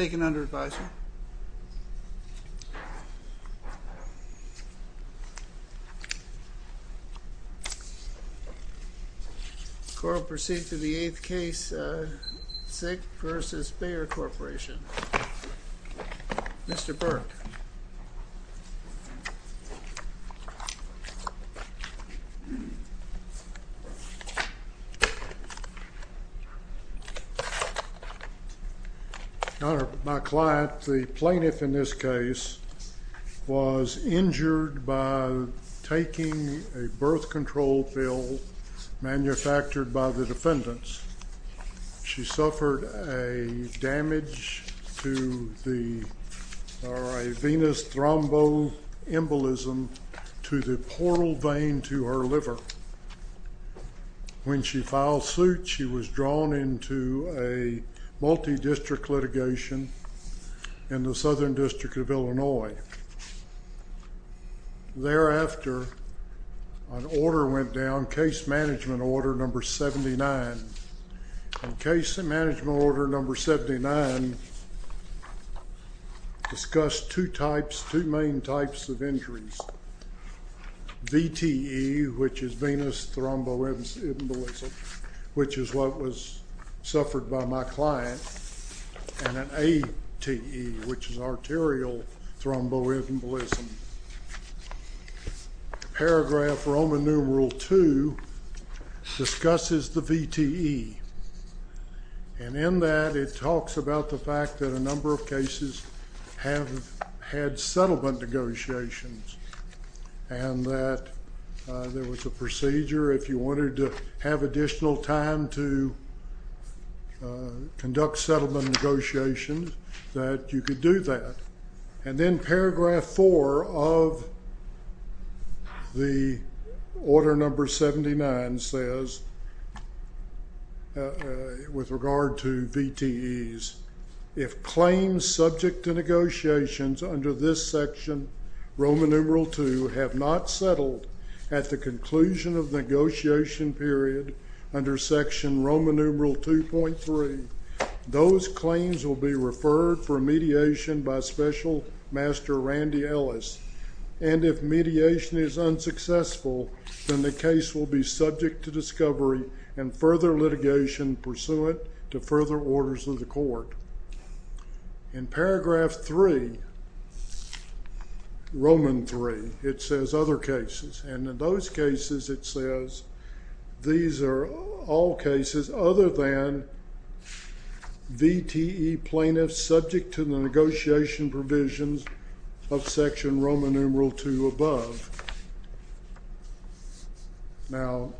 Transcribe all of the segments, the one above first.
I take it under advisory. The court will proceed to the 8th case, Dzik v. Bayer Corporation. Mr. Burke. Your Honor, my client, the plaintiff in this case, was injured by taking a birth control pill manufactured by the defendants. She suffered a damage to the venous thromboembolism to the portal vein to her liver. When she filed suit, she was drawn into a multi-district litigation in the Southern District of Illinois. Thereafter, an order went down, Case Management Order No. 79. Case Management Order No. 79 discussed two main types of injuries. VTE, which is venous thromboembolism, which is what was suffered by my client. And an ATE, which is arterial thromboembolism. Paragraph Roman numeral 2 discusses the VTE. And in that, it talks about the fact that a number of cases have had settlement negotiations. And that there was a procedure, if you wanted to have additional time to conduct settlement negotiations, that you could do that. And then paragraph 4 of the Order No. 79 says, with regard to VTEs, if claims subject to negotiations under this section, Roman numeral 2, have not settled at the conclusion of the negotiation period under section Roman numeral 2.3, those claims will be referred for mediation by Special Master Randy Ellis. And if mediation is unsuccessful, then the case will be subject to discovery and further litigation pursuant to further orders of the court. In paragraph 3, Roman 3, it says other cases. And in those cases, it says these are all cases other than VTE plaintiffs subject to the negotiation provisions of section Roman numeral 2 above. Now,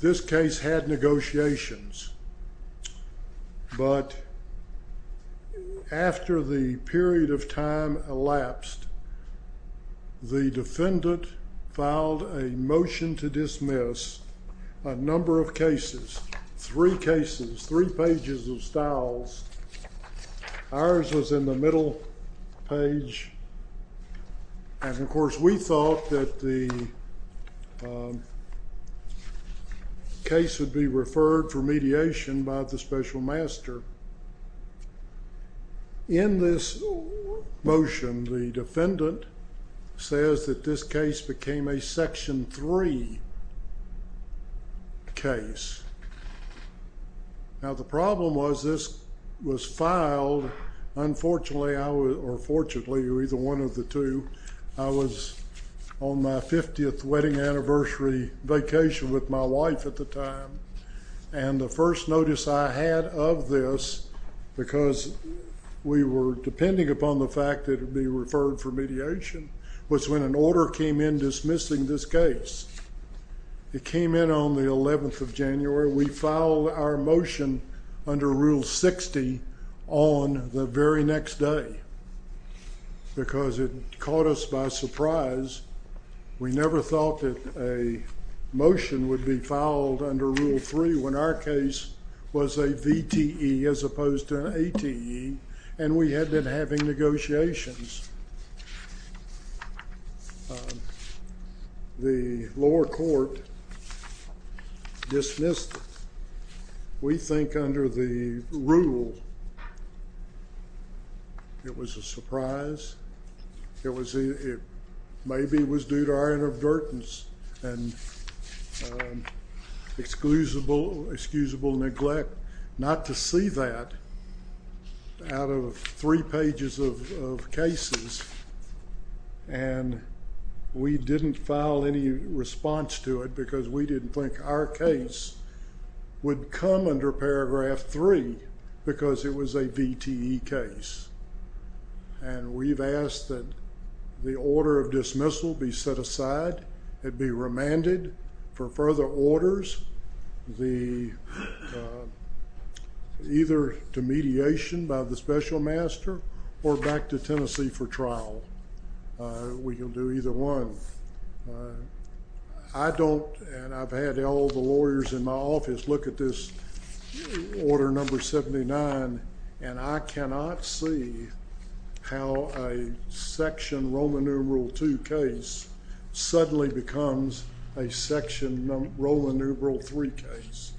this case had negotiations. But after the period of time elapsed, the defendant filed a motion to dismiss a number of cases, three cases, three pages of styles. Ours was in the middle page. And, of course, we thought that the case would be referred for mediation by the Special Master. In this motion, the defendant says that this case became a section 3 case. Now, the problem was this was filed. Unfortunately, or fortunately, or either one of the two, I was on my 50th wedding anniversary vacation with my wife at the time. And the first notice I had of this, because we were depending upon the fact that it would be referred for mediation, was when an order came in dismissing this case. It came in on the 11th of January. We filed our motion under Rule 60 on the very next day because it caught us by surprise. We never thought that a motion would be filed under Rule 3 when our case was a VTE as opposed to an ATE, and we had been having negotiations. The lower court dismissed it. We think under the rule it was a surprise. Maybe it was due to our inadvertence and excusable neglect not to see that out of three pages of cases. And we didn't file any response to it because we didn't think our case would come under Paragraph 3 because it was a VTE case. And we've asked that the order of dismissal be set aside and be remanded for further orders, either to mediation by the special master or back to Tennessee for trial. We can do either one. I don't, and I've had all the lawyers in my office look at this Order No. 79, and I cannot see how a section Roman numeral 2 case suddenly becomes a section Roman numeral 3 case.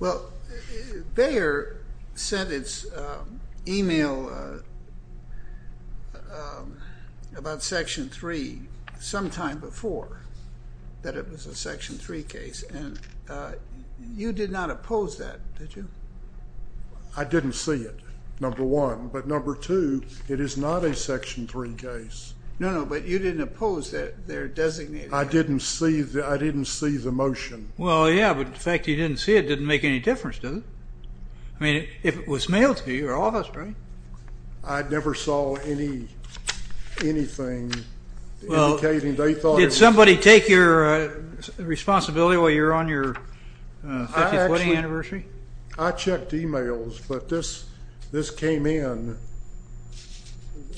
Well, Bayer sent its email about section 3 sometime before that it was a section 3 case, and you did not oppose that, did you? I didn't see it, number one. But number two, it is not a section 3 case. No, no, but you didn't oppose that they're designated. I didn't see the motion. Well, yeah, but the fact that you didn't see it didn't make any difference, did it? I mean, if it was mailed to you or office, right? I never saw anything indicating they thought it was. Did somebody take your responsibility while you were on your 50th wedding anniversary? I checked emails, but this came in,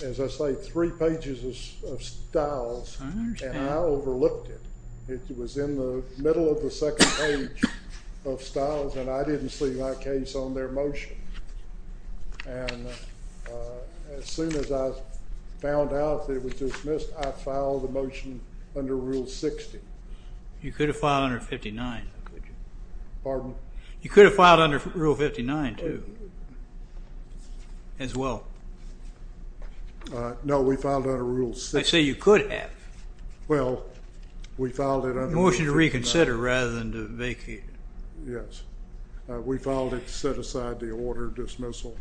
as I say, three pages of styles, and I overlooked it. It was in the middle of the second page of styles, and I didn't see that case on their motion. And as soon as I found out that it was dismissed, I filed the motion under Rule 60. You could have filed under 59, could you? Pardon? You could have filed under Rule 59, too, as well. No, we filed under Rule 60. I say you could have. Well, we filed it under Rule 59. Motion to reconsider rather than to vacate. Yes. We filed it to set aside the order of dismissal.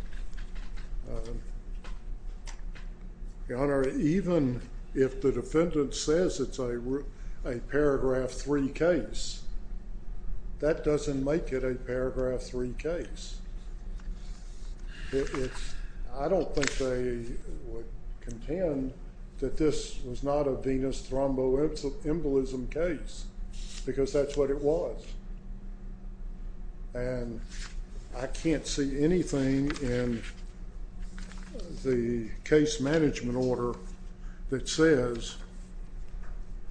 Your Honor, even if the defendant says it's a paragraph 3 case, that doesn't make it a paragraph 3 case. I don't think they would contend that this was not a venous thromboembolism case, because that's what it was. And I can't see anything in the case management order that says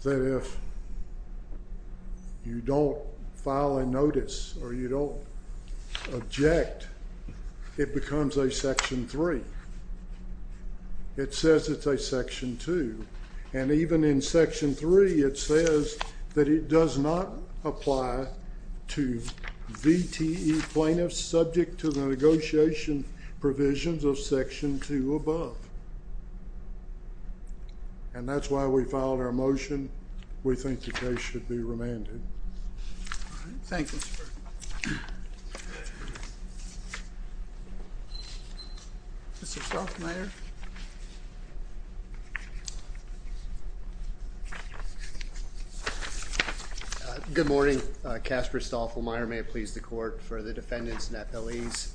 that if you don't file a notice or you don't object, it becomes a section 3. It says it's a section 2. And even in section 3, it says that it does not apply to VTE plaintiffs subject to the negotiation provisions of section 2 above. And that's why we filed our motion. We think the case should be remanded. Thank you, sir. Mr. Stoffelmayer. Good morning. Casper Stoffelmayer. May it please the court for the defendants and the appellees.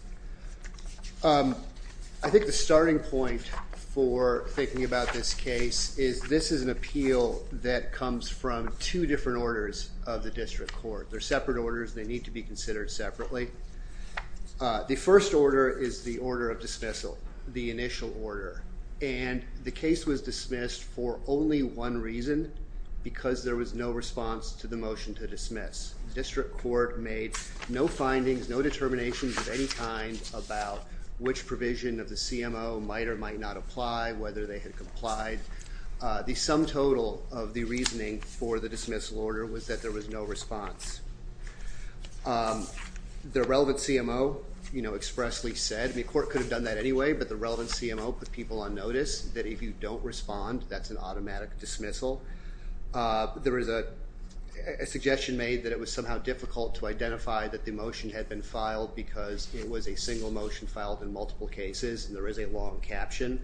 I think the starting point for thinking about this case is this is an appeal that comes from two different orders of the district court. They're separate orders. They need to be considered separately. The first order is the order of dismissal, the initial order. And the case was dismissed for only one reason, because there was no response to the motion to dismiss. The district court made no findings, no determinations of any kind about which provision of the CMO might or might not apply, whether they had complied. The sum total of the reasoning for the dismissal order was that there was no response. The relevant CMO expressly said, the court could have done that anyway, but the relevant CMO put people on notice that if you don't respond, that's an automatic dismissal. There is a suggestion made that it was somehow difficult to identify that the motion had been filed because it was a single motion filed in multiple cases, and there is a long caption.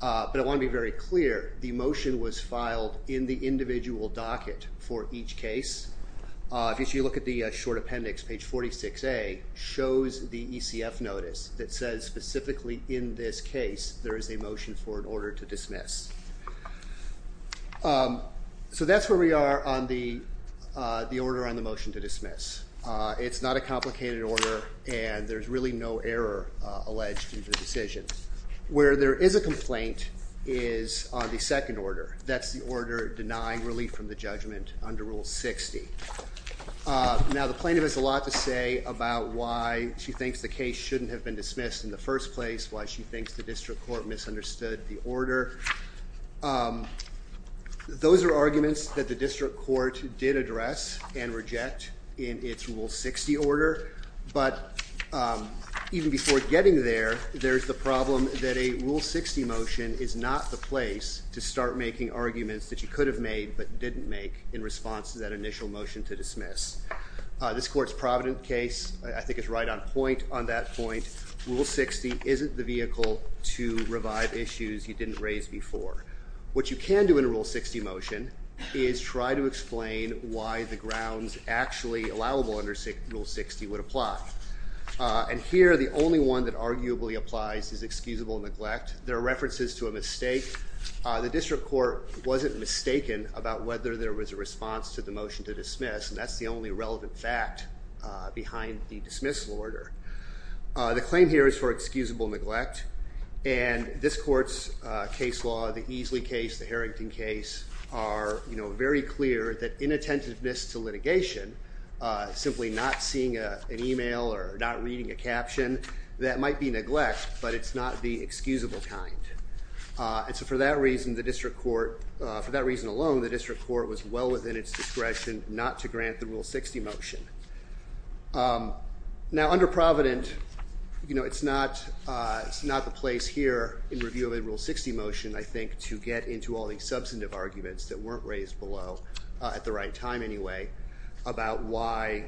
But I want to be very clear, the motion was filed in the individual docket for each case. If you look at the short appendix, page 46A shows the ECF notice that says specifically in this case there is a motion for an order to dismiss. So that's where we are on the order on the motion to dismiss. It's not a complicated order, and there's really no error alleged in the decision. Where there is a complaint is on the second order. That's the order denying relief from the judgment under Rule 60. Now the plaintiff has a lot to say about why she thinks the case shouldn't have been dismissed in the first place, why she thinks the district court misunderstood the order. Those are arguments that the district court did address and reject in its Rule 60 order. But even before getting there, there's the problem that a Rule 60 motion is not the place to start making arguments that you could have made but didn't make in response to that initial motion to dismiss. This court's Provident case I think is right on point on that point. Rule 60 isn't the vehicle to revive issues you didn't raise before. What you can do in a Rule 60 motion is try to explain why the grounds actually allowable under Rule 60 would apply. And here the only one that arguably applies is excusable neglect. There are references to a mistake. The district court wasn't mistaken about whether there was a response to the motion to dismiss, and that's the only relevant fact behind the dismissal order. The claim here is for excusable neglect. And this court's case law, the Easley case, the Harrington case, are very clear that inattentiveness to litigation, simply not seeing an email or not reading a caption, that might be neglect, but it's not the excusable kind. And so for that reason, the district court, for that reason alone, the district court was well within its discretion not to grant the Rule 60 motion. Now under Provident, you know, it's not the place here in review of a Rule 60 motion, I think, to get into all these substantive arguments that weren't raised below at the right time anyway, about why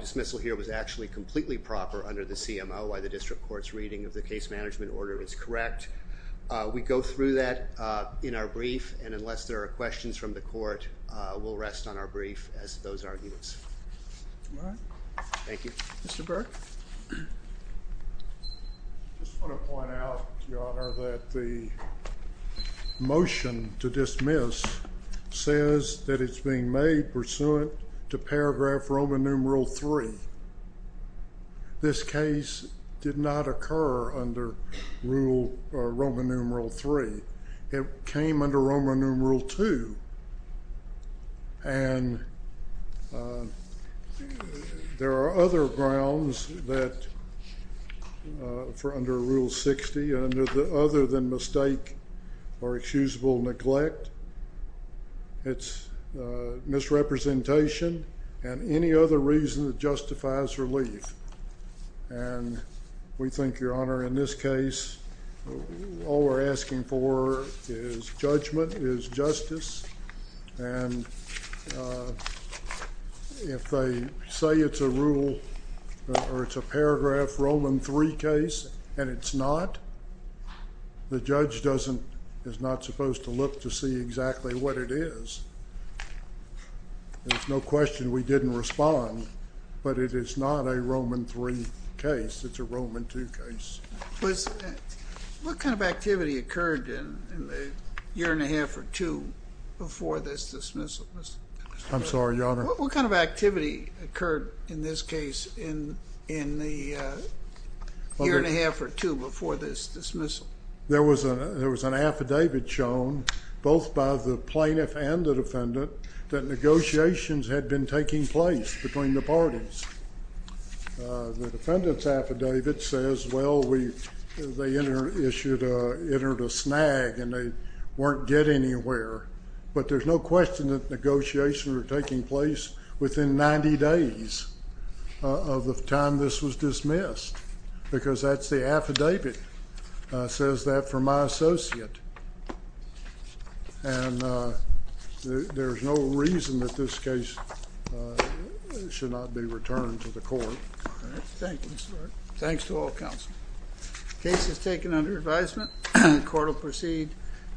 dismissal here was actually completely proper under the CMO, why the district court's reading of the case management order is correct. We go through that in our brief, and unless there are questions from the court, we'll rest on our brief as those arguments. All right. Thank you. Mr. Burke? I just want to point out, Your Honor, that the motion to dismiss says that it's being made pursuant to paragraph Roman numeral three. This case did not occur under Roman numeral three. It came under Roman numeral two. And there are other grounds that for under Rule 60, other than mistake or excusable neglect, it's misrepresentation and any other reason that justifies relief. And we think, Your Honor, in this case, all we're asking for is judgment, is justice. And if they say it's a rule or it's a paragraph Roman three case and it's not, the judge is not supposed to look to see exactly what it is. There's no question we didn't respond, but it is not a Roman three case, it's a Roman two case. What kind of activity occurred in the year and a half or two before this dismissal, Mr. Burke? I'm sorry, Your Honor? What kind of activity occurred in this case in the year and a half or two before this dismissal? There was an affidavit shown, both by the plaintiff and the defendant, that negotiations had been taking place between the parties. The defendant's affidavit says, well, they entered a snag and they weren't getting anywhere. But there's no question that negotiations were taking place within 90 days of the time this was dismissed. Because that's the affidavit. It says that for my associate. And there's no reason that this case should not be returned to the court. Thank you, Mr. Burke. Thanks to all counsel. The case is taken under advisement. The court will proceed.